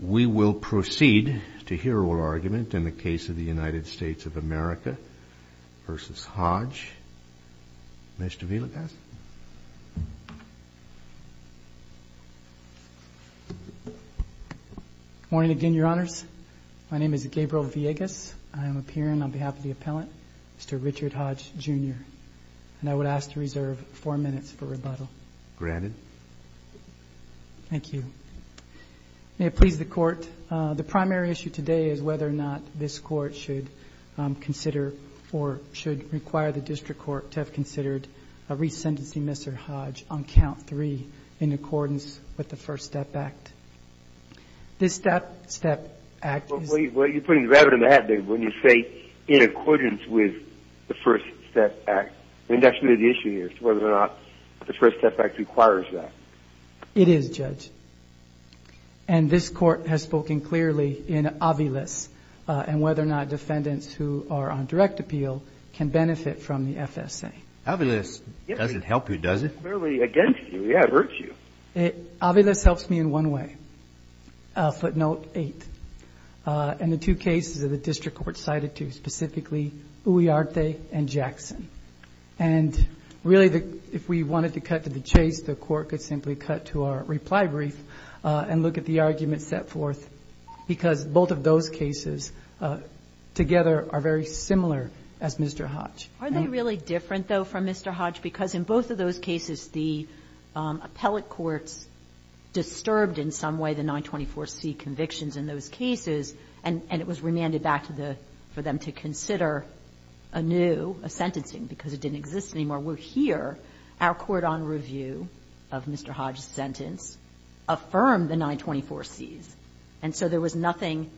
We will proceed to hear our argument in the case of the United States of America v. Hodge. Mr. Villegas? Good morning again, Your Honors. My name is Gabriel Villegas. I am appearing on behalf of the appellant, Mr. Richard Hodge Jr., and I would ask to reserve four minutes for rebuttal. Granted. Thank you. May it please the Court, the primary issue today is whether or not this Court should consider or should require the District Court to have considered a resentencing, Mr. Hodge, on count three in accordance with the First Step Act. This Step Act is— Well, you're putting the rabbit in the hat, David, when you say in accordance with the First Step Act. I mean, that's really the issue here is whether or not the First Step Act requires that. It is, Judge. And this Court has spoken clearly in aviles and whether or not defendants who are on direct appeal can benefit from the FSA. Aviles doesn't help you, does it? It's clearly against you. Yeah, it hurts you. Aviles helps me in one way, footnote eight. And the two cases that the District Court cited, too, specifically Uriarte and Jackson. And really, if we wanted to cut to the chase, the Court could simply cut to our reply brief and look at the arguments set forth, because both of those cases together are very similar as Mr. Hodge. Are they really different, though, from Mr. Hodge? Because in both of those cases, the appellate courts disturbed in some way the 924C convictions in those cases, and it was remanded back for them to consider anew a sentencing because it didn't exist anymore. We're here. Our court on review of Mr. Hodge's sentence affirmed the 924Cs. And so there was nothing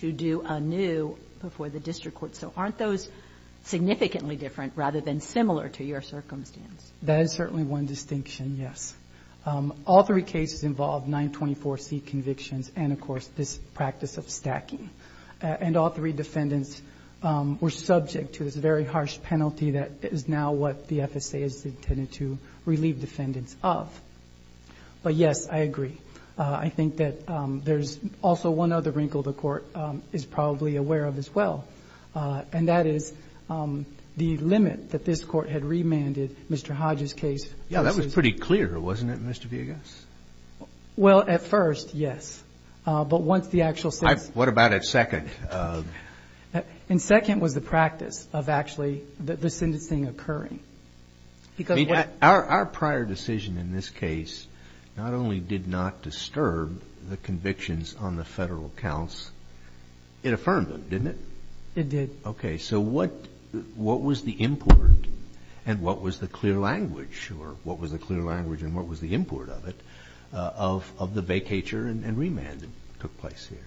to do anew before the District Court. So aren't those significantly different rather than similar to your circumstance? That is certainly one distinction, yes. All three cases involved 924C convictions and, of course, this practice of stacking. And all three defendants were subject to this very harsh penalty that is now what the FSA is intended to relieve defendants of. But, yes, I agree. I think that there's also one other wrinkle the Court is probably aware of as well, and that is the limit that this Court had remanded Mr. Hodge's case. Yeah, that was pretty clear, wasn't it, Mr. Villegas? Well, at first, yes. But once the actual sentence was... What about at second? In second was the practice of actually the sentencing occurring. Our prior decision in this case not only did not disturb the convictions on the federal counts, it affirmed them, didn't it? It did. Okay. So what was the import and what was the clear language, or what was the clear language and what was the import of it, of the vacatur and remand that took place here?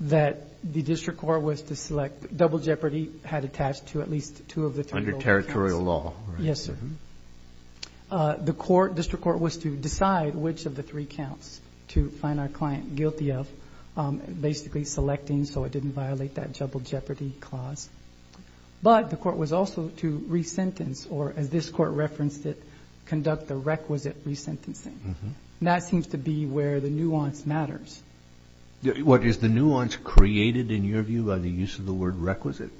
That the district court was to select... Double jeopardy had attached to at least two of the... Under territorial law, right? Yes, sir. The court, district court, was to decide which of the three counts to find our client guilty of, basically selecting so it didn't violate that double jeopardy clause. But the court was also to resentence, or as this Court referenced it, conduct the requisite resentencing. And that seems to be where the nuance matters. What is the nuance created, in your view, by the use of the word requisite?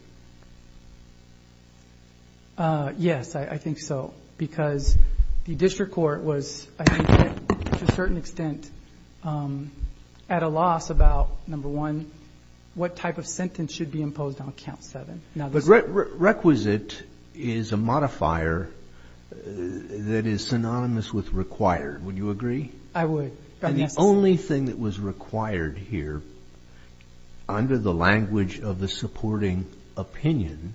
Yes, I think so. Because the district court was, I think, to a certain extent at a loss about, number one, what type of sentence should be imposed on count seven. But requisite is a modifier that is synonymous with required. Would you agree? I would. And the only thing that was required here, under the language of the supporting opinion,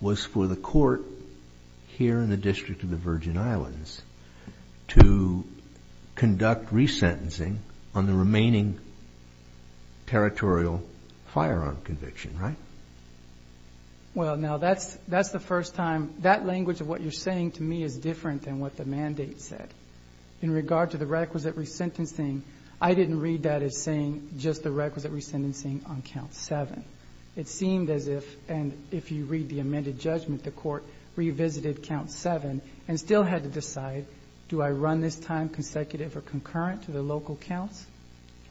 was for the court here in the District of the Virgin Islands to conduct resentencing on the remaining territorial firearm conviction, right? Well, now, that's the first time... That language of what you're saying to me is different than what the mandate said. In regard to the requisite resentencing, I didn't read that as saying just the requisite resentencing on count seven. It seemed as if, and if you read the amended judgment, the court revisited count seven and still had to decide, do I run this time consecutive or concurrent to the local counts?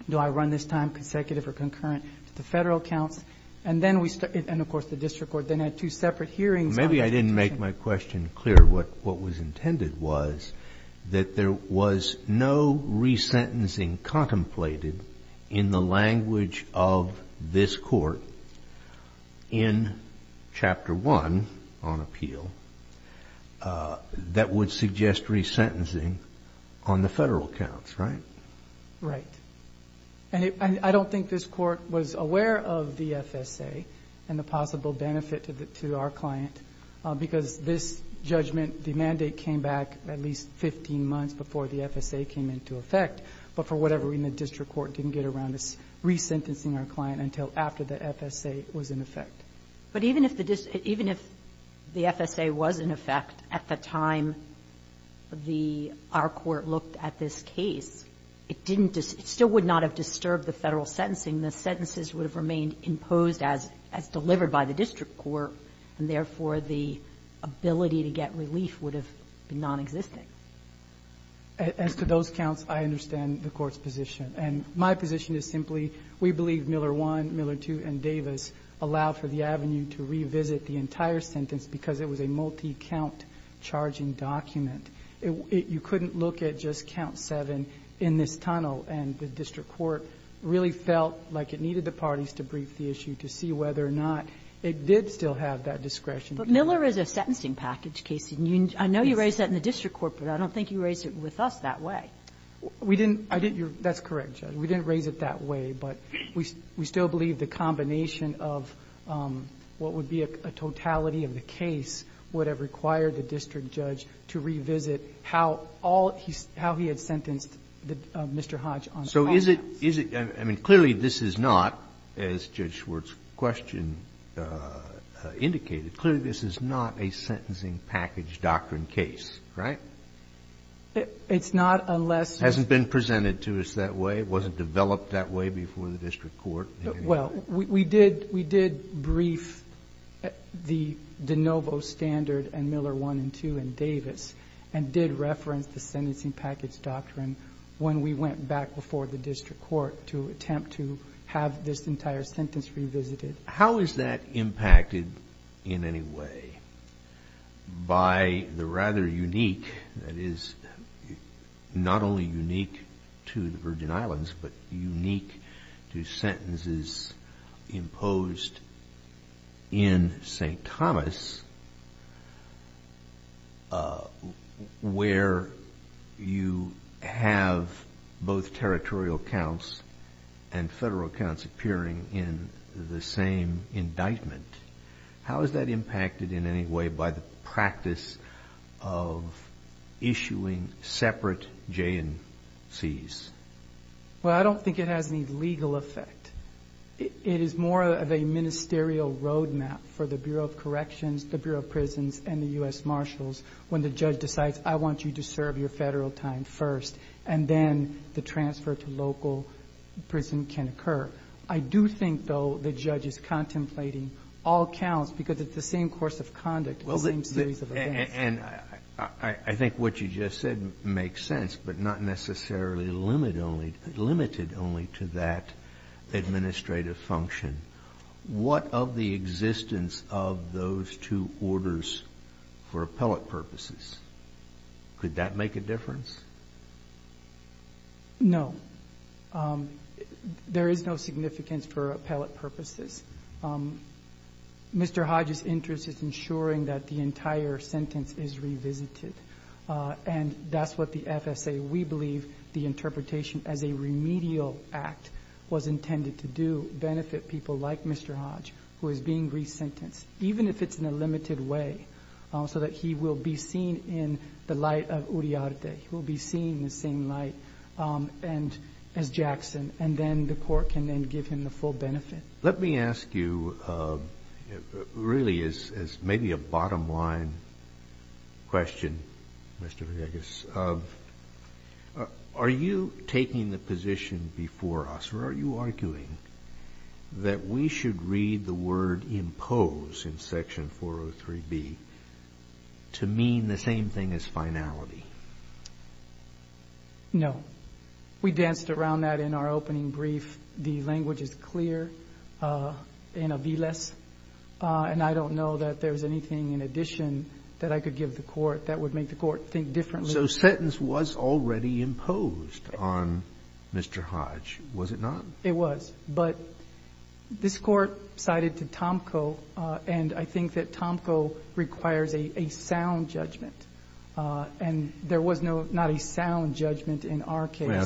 Do I run this time consecutive or concurrent to the Federal counts? And then we started, and of course the district court then had two separate hearings. Maybe I didn't make my question clear. What was intended was that there was no resentencing contemplated in the language of this court in Chapter 1 on appeal that would suggest resentencing on the Federal counts, right? Right. I don't think this court was aware of the FSA and the possible benefit to our client because this judgment, the mandate came back at least 15 months before the FSA came into effect, but for whatever reason, the district court didn't get around to resentencing our client until after the FSA was in effect. But even if the FSA was in effect at the time our court looked at this case, it still would not have disturbed the Federal sentencing. The sentences would have remained imposed as delivered by the district court, and therefore the ability to get relief would have been nonexistent. As to those counts, I understand the court's position. And my position is simply we believe Miller 1, Miller 2, and Davis allowed for the avenue to revisit the entire sentence because it was a multi-count charging document. You couldn't look at just count 7 in this tunnel, and the district court really felt like it needed the parties to brief the issue to see whether or not it did still have that discretion. But Miller is a sentencing package case. I know you raised that in the district court, but I don't think you raised it with us that way. We didn't. That's correct, Judge. We didn't raise it that way, but we still believe the combination of what would be a totality of the case would have required the district judge to revisit how all he had sentenced Mr. Hodge on all counts. So is it – I mean, clearly this is not, as Judge Schwartz's question indicated, clearly this is not a sentencing package doctrine case, right? It's not unless you – It hasn't been presented to us that way. It wasn't developed that way before the district court. Well, we did brief the de novo standard and Miller 1 and 2 and Davis and did reference the sentencing package doctrine when we went back before the district court to attempt to have this entire sentence revisited. How is that impacted in any way by the rather unique – that is, not only unique to the Virgin Islands, but unique to sentences imposed in St. Thomas where you have both territorial counts and federal counts appearing in the same indictment? How is that impacted in any way by the practice of issuing separate J&Cs? Well, I don't think it has any legal effect. It is more of a ministerial roadmap for the Bureau of Corrections, the Bureau of Prisons, and the U.S. Marshals when the judge decides I want you to serve your federal time first and then the transfer to local prison can occur. I do think, though, the judge is contemplating all counts because it's the same course of conduct, the same series of events. And I think what you just said makes sense, but not necessarily limited only to that administrative function. What of the existence of those two orders for appellate purposes? Could that make a difference? No. There is no significance for appellate purposes. Mr. Hodge's interest is ensuring that the entire sentence is revisited, and that's what the FSA, we believe the interpretation as a remedial act, was intended to do, benefit people like Mr. Hodge, who is being resentenced, even if it's in a limited way, so that he will be seen in the light of Uriarte. He will be seen in the same light as Jackson, and then the court can then give him the full benefit. Let me ask you really maybe a bottom-line question, Mr. Vargas. Are you taking the position before us, or are you arguing that we should read the word impose in Section 403B to mean the No. We danced around that in our opening brief. The language is clear in Aviles, and I don't know that there's anything in addition that I could give the court that would make the court think differently. So sentence was already imposed on Mr. Hodge, was it not? It was, but this court cited to Tomko, and I think that Tomko requires a sound judgment, and there was not a sound judgment in our case. Well,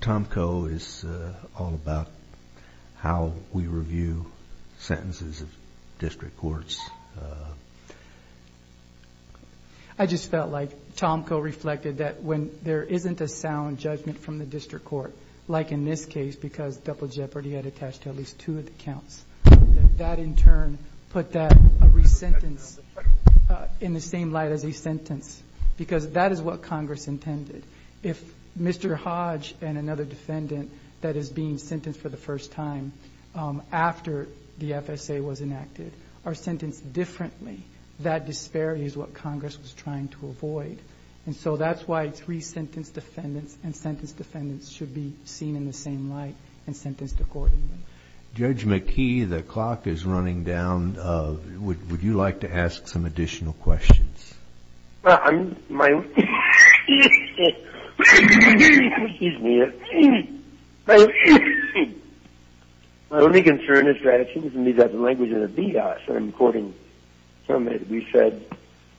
Tomko is all about how we review sentences of district courts. I just felt like Tomko reflected that when there isn't a sound judgment from the district court, like in this case, because double jeopardy had attached to at least two of the counts, that in turn put that re-sentence in the same light as a sentence, because that is what Congress intended. If Mr. Hodge and another defendant that is being sentenced for the first time after the FSA was enacted are sentenced differently, that disparity is what Congress was trying to avoid. And so that's why it's re-sentence defendants and sentence defendants should be seen in the same light and sentenced accordingly. Judge McKee, the clock is running down. Would you like to ask some additional questions? Well, my only concern is that it seems to me that the language of the DOS, and I'm quoting from it, we said,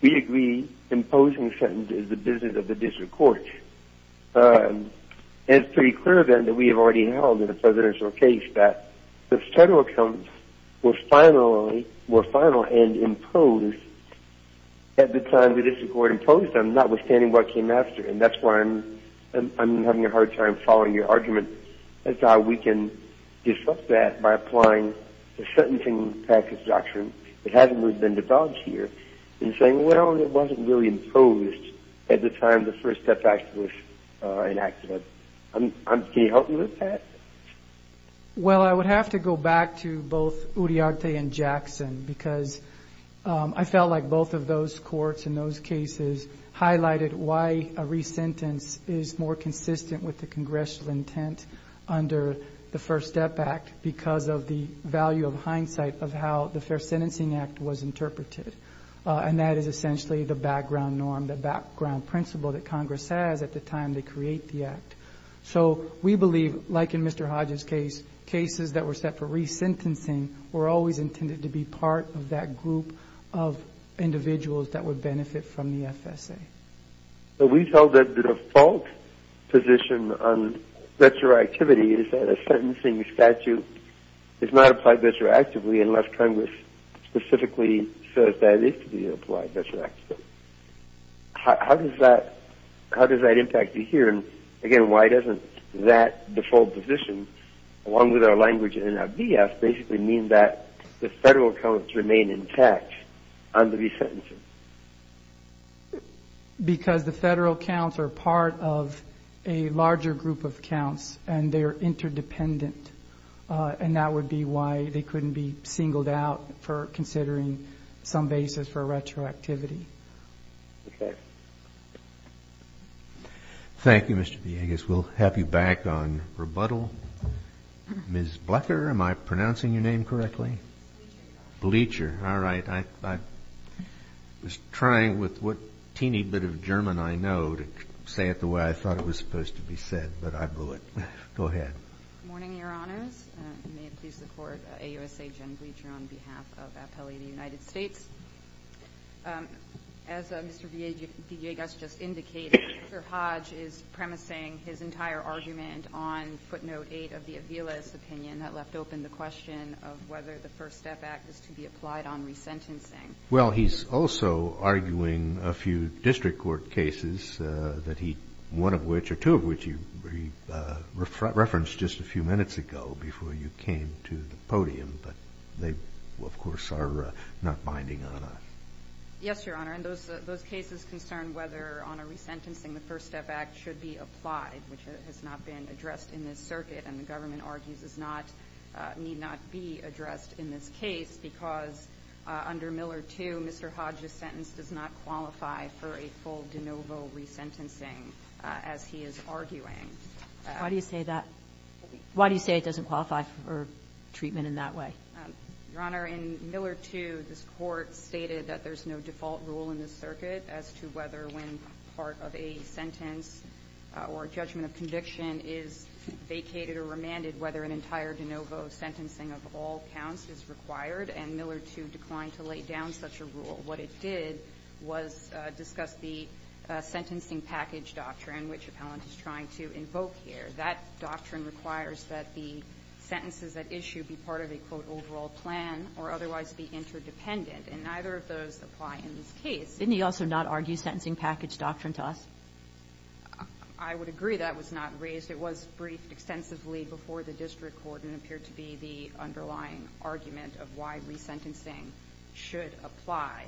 we agree imposing a sentence is the business of the district court. And it's pretty clear then that we have already held, in the presidential case, that the federal accounts were final and imposed at the time the district court imposed them, notwithstanding what came after. And that's why I'm having a hard time following your argument as to how we can disrupt that by applying the sentencing practice doctrine that hasn't really been developed here, and saying, well, it wasn't really imposed at the time the First Step Act was enacted. Can you help me with that? Well, I would have to go back to both Uriarte and Jackson because I felt like both of those courts in those cases highlighted why a re-sentence is more consistent with the congressional intent under the First Step Act because of the value of hindsight of how the Fair Sentencing Act was interpreted. And that is essentially the background norm, the background principle that Congress has at the time they create the act. So we believe, like in Mr. Hodges' case, cases that were set for re-sentencing were always intended to be part of that group of individuals that would benefit from the FSA. But we felt that the default position on retroactivity is that a sentencing statute is not applied retroactively unless Congress specifically says that it is to be applied retroactively. How does that impact you here? And, again, why doesn't that default position, along with our language in NFDS, basically mean that the federal accounts remain intact under re-sentencing? Because the federal accounts are part of a larger group of accounts, and they are interdependent, and that would be why they couldn't be singled out for considering some basis for retroactivity. Thank you, Mr. Villegas. We'll have you back on rebuttal. Ms. Blecher, am I pronouncing your name correctly? Blecher, all right. I was trying with what teeny bit of German I know to say it the way I thought it was supposed to be said, but I blew it. Go ahead. Good morning, Your Honors. May it please the Court, AUSA Jen Blecher on behalf of Appellee of the United States. As Mr. Villegas just indicated, Mr. Hodge is premising his entire argument on footnote 8 of the Aviles opinion that left open the question of whether the First Step Act is to be applied on re-sentencing. Well, he's also arguing a few district court cases, one of which or two of which you referenced just a few minutes ago before you came to the podium, but they, of course, are not binding on us. Yes, Your Honor, and those cases concern whether on a re-sentencing the First Step Act should be applied, which has not been addressed in this circuit and the government argues need not be addressed in this case because under Miller 2 Mr. Hodge's sentence does not qualify for a full de novo re-sentencing as he is arguing. Why do you say that? Why do you say it doesn't qualify for treatment in that way? Your Honor, in Miller 2 this Court stated that there's no default rule in this circuit as to whether when part of a sentence or judgment of conviction is vacated or remanded whether an entire de novo sentencing of all counts is required, and Miller 2 declined to lay down such a rule. What it did was discuss the sentencing package doctrine, which Appellant is trying to invoke here. That doctrine requires that the sentences at issue be part of a, quote, overall plan or otherwise be interdependent, and neither of those apply in this case. Didn't he also not argue sentencing package doctrine to us? I would agree that was not raised. It was briefed extensively before the district court and appeared to be the underlying argument of why re-sentencing should apply.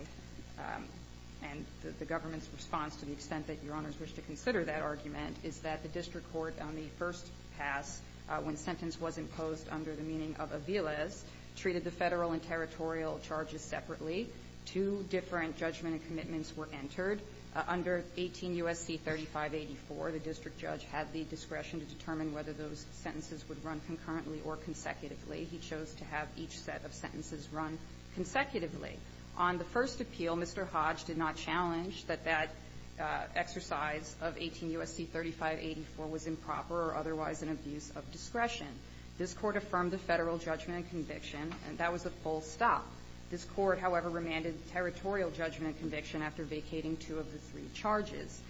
And the government's response to the extent that Your Honors wish to consider that argument is that the district court on the first pass, when sentence was imposed under the meaning of a viles, treated the federal and territorial charges separately. Two different judgment and commitments were entered. Under 18 U.S.C. 3584, the district judge had the discretion to determine whether those sentences would run concurrently or consecutively. He chose to have each set of sentences run consecutively. On the first appeal, Mr. Hodge did not challenge that that exercise of 18 U.S.C. 3584 was improper or otherwise an abuse of discretion. This court affirmed the federal judgment and conviction, and that was a full stop. This court, however, remanded territorial judgment and conviction after vacating two of the three charges.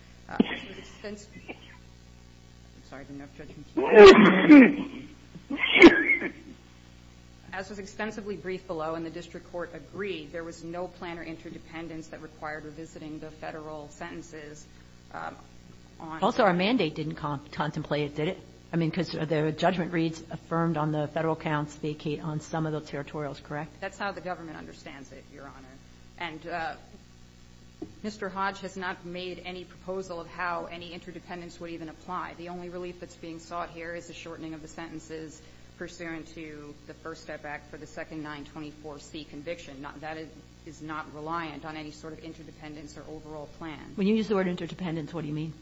As was extensively briefed below, and the district court agreed, there was no plan or interdependence that required revisiting the Federal sentences on the federal counts. Also, our mandate didn't contemplate it, did it? I mean, because the judgment reads affirmed on the Federal counts vacate on some of the territorials, correct? That's how the government understands it, Your Honor. And Mr. Hodge has not made any proposal of how any interdependence would even apply. The only relief that's being sought here is the shortening of the sentences pursuant to the First Step Act for the second 924C conviction. That is not reliant on any sort of interdependence or overall plan. When you use the word interdependence, what do you mean?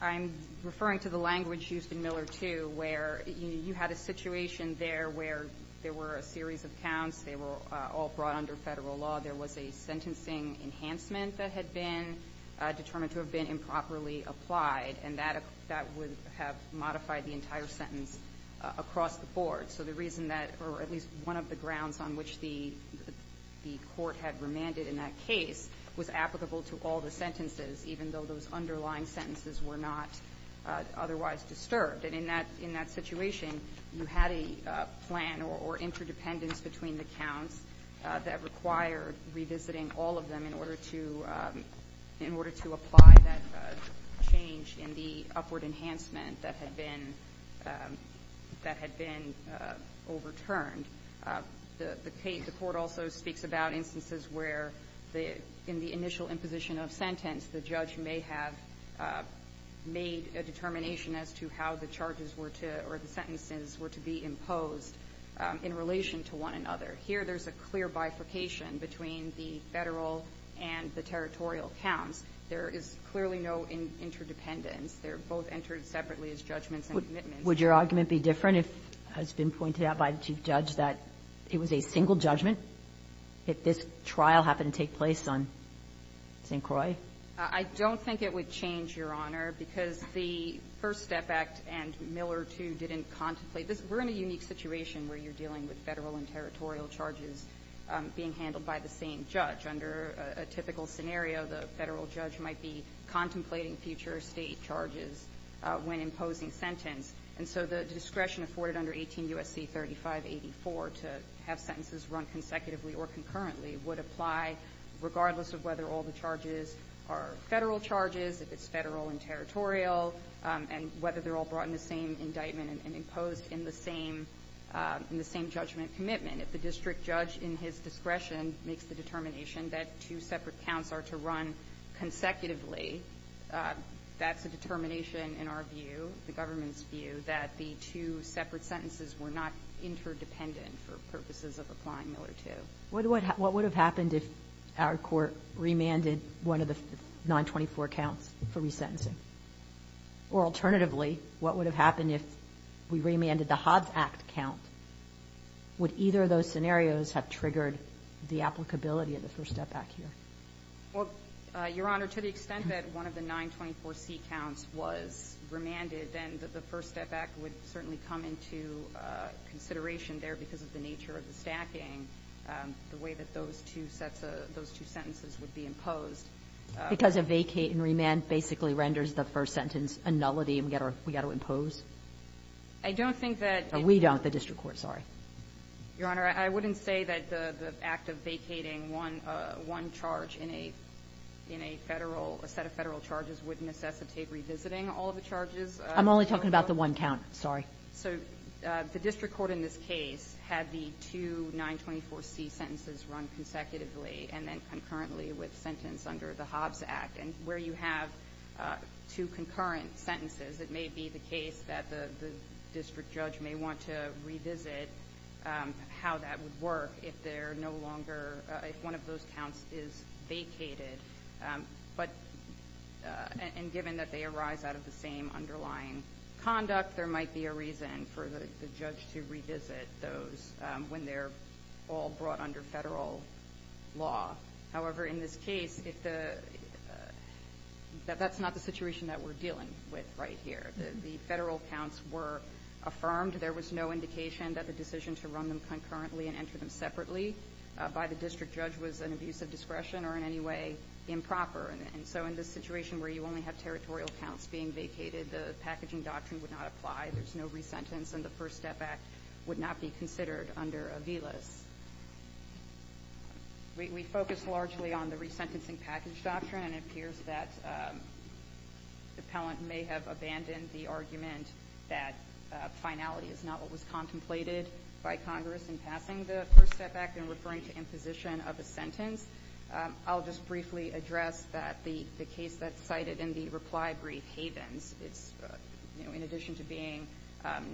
I'm referring to the language used in Miller 2 where you had a situation there where there were a series of counts. They were all brought under Federal law. There was a sentencing enhancement that had been determined to have been improperly applied, and that would have modified the entire sentence across the board. So the reason that, or at least one of the grounds on which the court had remanded in that case was applicable to all the sentences, even though those underlying sentences were not otherwise disturbed. And in that situation, you had a plan or interdependence between the counts that required revisiting all of them in order to apply that change in the upward enhancement that had been overturned. The court also speaks about instances where in the initial imposition of sentence the judge may have made a determination as to how the charges were to, or the sentences were to be imposed in relation to one another. Here there's a clear bifurcation between the Federal and the territorial counts. There is clearly no interdependence. They're both entered separately as judgments and commitments. Would your argument be different if it has been pointed out by the Chief Judge that it was a single judgment? If this trial happened to take place on St. Croix? I don't think it would change, Your Honor, because the First Step Act and Miller II didn't contemplate this. We're in a unique situation where you're dealing with Federal and territorial charges being handled by the same judge. Under a typical scenario, the Federal judge might be contemplating future State charges when imposing sentence. And so the discretion afforded under 18 U.S.C. 3584 to have sentences run consecutively or concurrently would apply regardless of whether all the charges are Federal charges, if it's Federal and territorial, and whether they're all brought in the same indictment and imposed in the same judgment commitment. If the district judge in his discretion makes the determination that two separate counts are to run consecutively, that's a determination in our view, the government's view, that the two separate sentences were not interdependent for purposes of applying Miller II. What would have happened if our court remanded one of the 924 counts for resentencing? Or alternatively, what would have happened if we remanded the Hobbs Act count? Would either of those scenarios have triggered the applicability of the First Step Act here? Well, Your Honor, to the extent that one of the 924C counts was remanded, then the First Step Act would have triggered the application of the Hobbs Act. And so that's a consideration there because of the nature of the stacking, the way that those two sets of sentences would be imposed. Because a vacate and remand basically renders the first sentence a nullity and we've got to impose? I don't think that... We don't, the district court. Sorry. Your Honor, I wouldn't say that the act of vacating one charge in a Federal, a set of charges in this case had the two 924C sentences run consecutively and then concurrently with sentence under the Hobbs Act. And where you have two concurrent sentences, it may be the case that the district judge may want to revisit how that would work if they're no longer, if one of those counts is vacated. But, and given that they arise out of the same underlying conduct, there might be a need to revisit those when they're all brought under Federal law. However, in this case, if the, that's not the situation that we're dealing with right here. The Federal counts were affirmed. There was no indication that the decision to run them concurrently and enter them separately by the district judge was an abuse of discretion or in any way improper. And so in this situation where you only have territorial counts being vacated, the packaging doctrine would not apply. There's no resentence and the First Step Act would not be considered under a VLIS. We, we focus largely on the resentencing package doctrine and it appears that the appellant may have abandoned the argument that finality is not what was contemplated by Congress in passing the First Step Act and referring to imposition of a sentence. I'll just briefly address that the, the case that's cited in the reply brief, Havens, it's in addition to being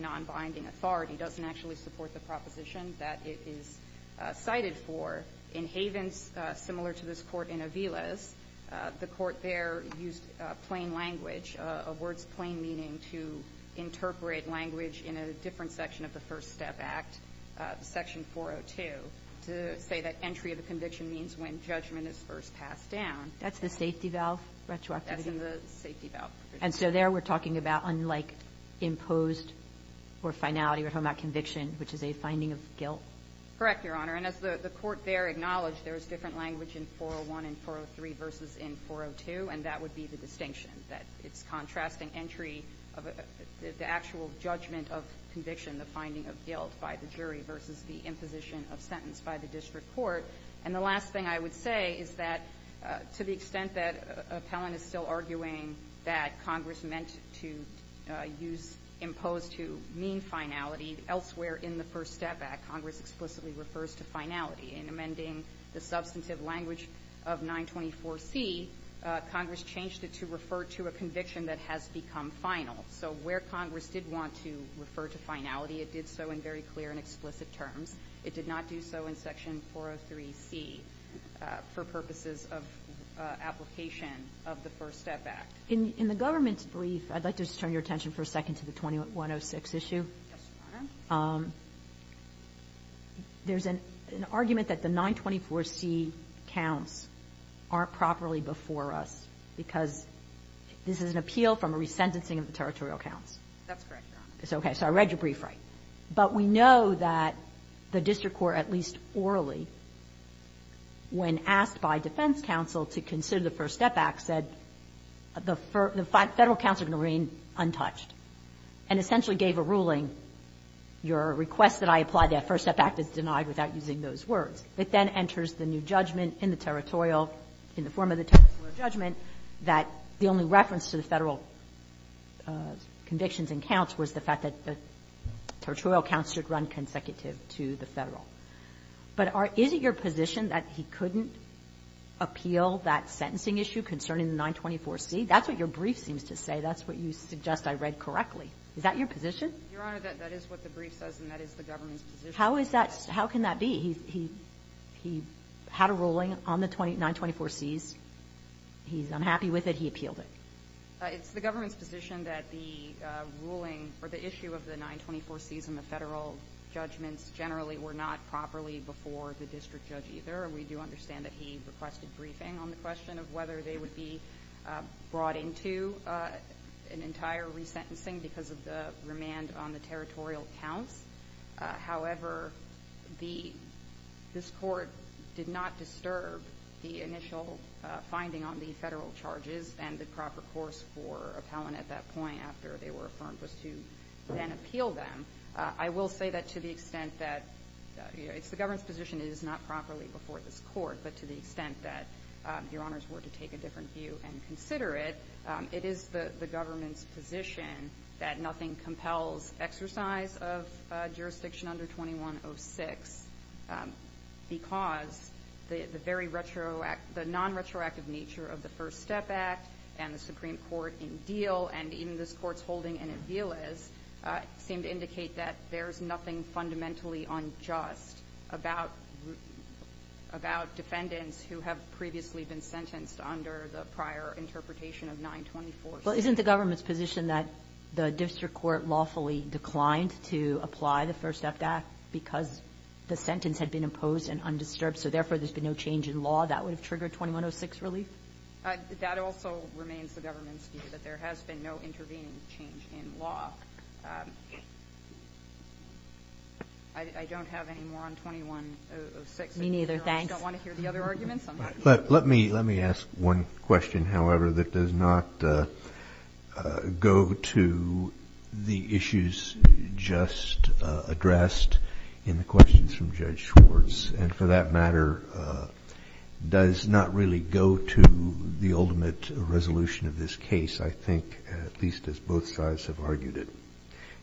non-binding authority, doesn't actually support the proposition that it is cited for. In Havens, similar to this Court in Aviles, the Court there used plain language, a word's plain meaning to interpret language in a different section of the First Step Act, Section 402, to say that entry of the conviction means when judgment is first passed down. That's the safety valve retroactivity? That's in the safety valve. And so there we're talking about unlike imposed or finality, we're talking about conviction, which is a finding of guilt? Correct, Your Honor. And as the, the Court there acknowledged, there's different language in 401 and 403 versus in 402 and that would be the distinction, that it's contrasting entry of a, the actual judgment of conviction, the finding of guilt by the jury versus the imposition of sentence by the district court. And the last thing I would say is that to the extent that appellant is still arguing that Congress meant to use, impose to mean finality, elsewhere in the First Step Act, Congress explicitly refers to finality. In amending the substantive language of 924C, Congress changed it to refer to a conviction that has become final. So where Congress did want to refer to finality, it did so in very clear and explicit terms. It did not do so in Section 403C for purposes of application of the First Step Act. In, in the government's brief, I'd like to just turn your attention for a second to the 2106 issue. Yes, Your Honor. There's an, an argument that the 924C counts aren't properly before us because this is an appeal from a resentencing of the territorial counts. That's correct, Your Honor. It's okay. So I read your brief right. But we know that the district court, at least orally, when asked by defense counsel to consider the First Step Act, said the federal counts are going to remain untouched and essentially gave a ruling, your request that I apply the First Step Act is denied without using those words. It then enters the new judgment in the territorial, in the form of the territorial judgment that the only reference to the Federal convictions and counts was the fact that the territorial counts should run consecutive to the Federal. But are, is it your position that he couldn't appeal that sentencing issue concerning the 924C? That's what your brief seems to say. That's what you suggest I read correctly. Is that your position? Your Honor, that, that is what the brief says and that is the government's position. How is that, how can that be? He, he, he had a ruling on the 924Cs. He's unhappy with it. He appealed it. It's the government's position that the ruling or the issue of the 924Cs in the Federal judgments generally were not properly before the district judge either. We do understand that he requested briefing on the question of whether they would be brought into an entire resentencing because of the remand on the territorial counts. However, the, this court did not disturb the initial finding on the Federal charges and the proper course for appellant at that point after they were affirmed was to then appeal them. I will say that to the extent that, you know, it's the government's position it is not properly before this court, but to the extent that your Honors were to take a different view and consider it, it is the, the government's position that nothing compels exercise of jurisdiction under 2106 because the, the very retroact, the non-retroactive nature of the First Step Act and the Supreme Court in Diehl and even this court's holding in Aviles seem to indicate that there's nothing fundamentally unjust about, about defendants who have previously been sentenced under the prior interpretation of 924Cs. Well, isn't the government's position that the district court lawfully declined to apply the First Step Act because the sentence had been imposed and undisturbed so therefore there's been no change in law? That would have triggered 2106 relief? That also remains the government's view that there has been no intervening change in law. I don't have any more on 2106. Me neither, thanks. I just don't want to hear the other arguments. Let me, let me ask one question, however, that does not go to the issues just addressed in the questions from Judge Schwartz and for that matter does not really go to the ultimate resolution of this case, I think, at least as both sides have argued it.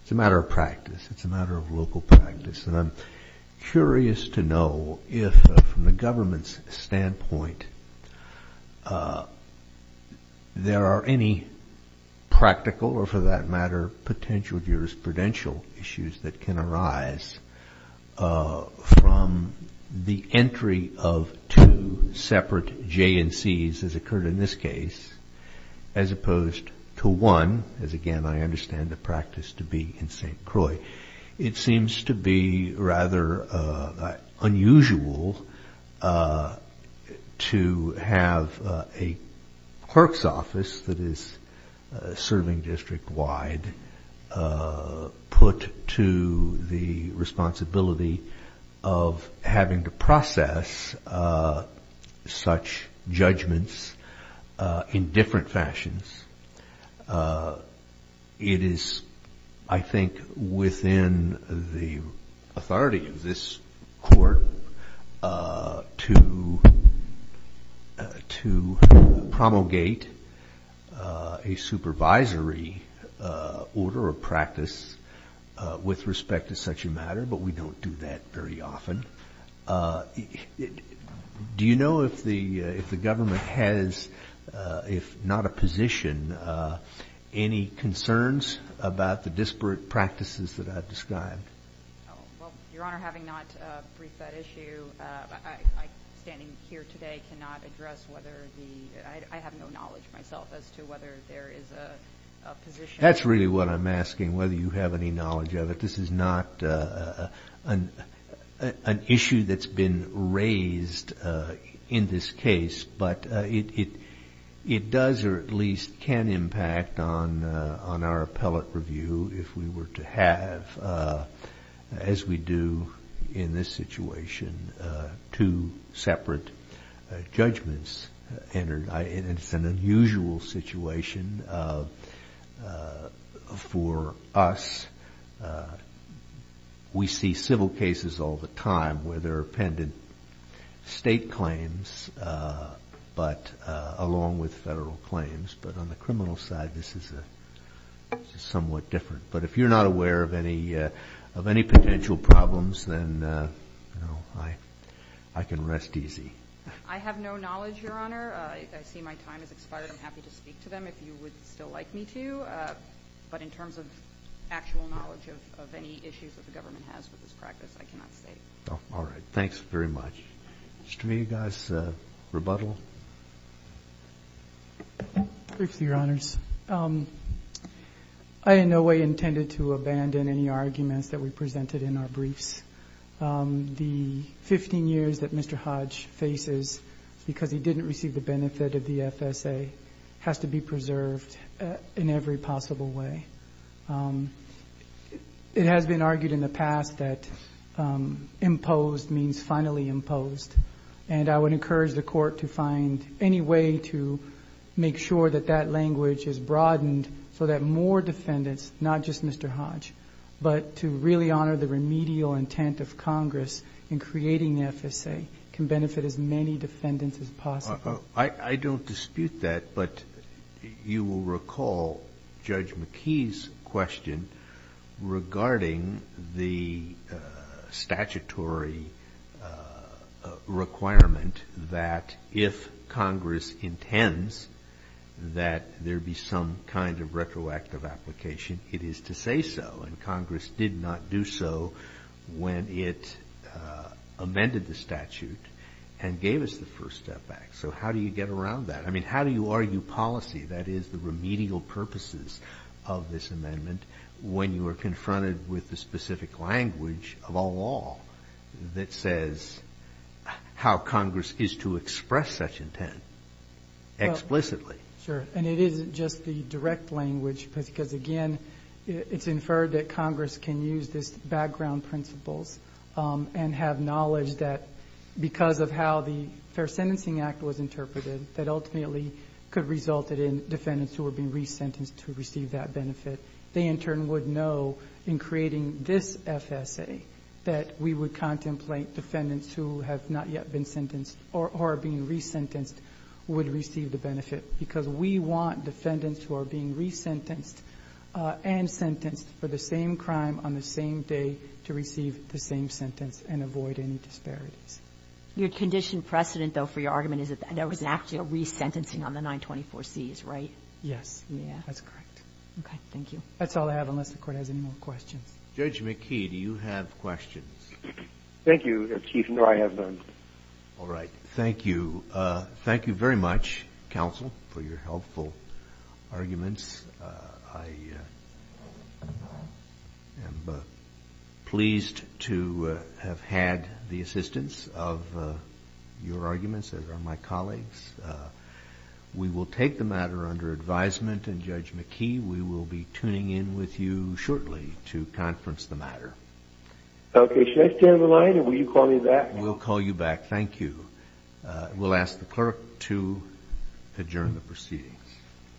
It's a matter of practice. It's a matter of local practice. And I'm curious to know if from the government's standpoint there are any practical or for that matter potential jurisprudential issues that can arise from the entry of two separate J&Cs, as occurred in this case, as opposed to one, as again I understand the practice to be in St. Croix. It seems to be rather unusual to have a clerk's office that is serving district wide put to the responsibility of having to process such judgments in different fashions. It is, I think, within the authority of this court to promulgate a supervisory order of practice with respect to such a matter, but we don't do that very often. Do you know if the government has, if not a position, any concerns about the disparate practices that I've described? Well, Your Honor, having not briefed that issue, I, standing here today, cannot address whether the, I have no knowledge myself as to whether there is a position. That's really what I'm asking, whether you have any knowledge of it. This is not an issue that's been raised in this case, but it does or at least can impact on our appellate review if we were to have, as we do in this We see civil cases all the time where they're appended state claims, but along with federal claims. But on the criminal side, this is somewhat different. But if you're not aware of any potential problems, then I can rest easy. I have no knowledge, Your Honor. I see my time has expired. I'm happy to speak to them if you would still like me to. But in terms of actual knowledge of any issues that the government has with this practice, I cannot say. All right. Thanks very much. Mr. Mead, you guys rebuttal? Briefly, Your Honors. I in no way intended to abandon any arguments that we presented in our briefs. The 15 years that Mr. Hodge faces because he didn't receive the benefit of the FSA has to be preserved in every possible way. It has been argued in the past that imposed means finally imposed. And I would encourage the court to find any way to make sure that that language is broadened so that more defendants, not just Mr. Hodge, but to really honor the remedial intent of Congress in creating the FSA can benefit as many defendants as possible. I don't dispute that. But you will recall Judge McKee's question regarding the statutory requirement that if Congress intends that there be some kind of retroactive application, it is to say so. And Congress did not do so when it amended the statute and gave us the first step back. So how do you get around that? I mean, how do you argue policy, that is the remedial purposes of this amendment, when you are confronted with the specific language of a law that says how Congress is to express such intent explicitly? Sure. And it isn't just the direct language because, again, it's inferred that Congress can use this background principles and have knowledge that because of how the Fair Sentencing Act was interpreted, that ultimately could result in defendants who are being resentenced to receive that benefit. They, in turn, would know in creating this FSA that we would contemplate defendants who have not yet been sentenced or are being resentenced would receive the benefit because we want defendants who are being resentenced and sentenced for the same crime on the same day to receive the same sentence and avoid any disparities. Your condition precedent, though, for your argument is that there was an actual resentencing on the 924Cs, right? Yes. That's correct. Okay. Thank you. That's all I have unless the Court has any more questions. Judge McKee, do you have questions? Thank you, Chief. No, I have none. All right. Thank you. Thank you very much, counsel, for your helpful arguments. I am pleased to have had the assistance of your arguments as are my colleagues. We will take the matter under advisement, and, Judge McKee, we will be tuning in with you shortly to conference the matter. Okay. Should I stay on the line, or will you call me back? We'll call you back. Thank you. We'll ask the clerk to adjourn the proceedings.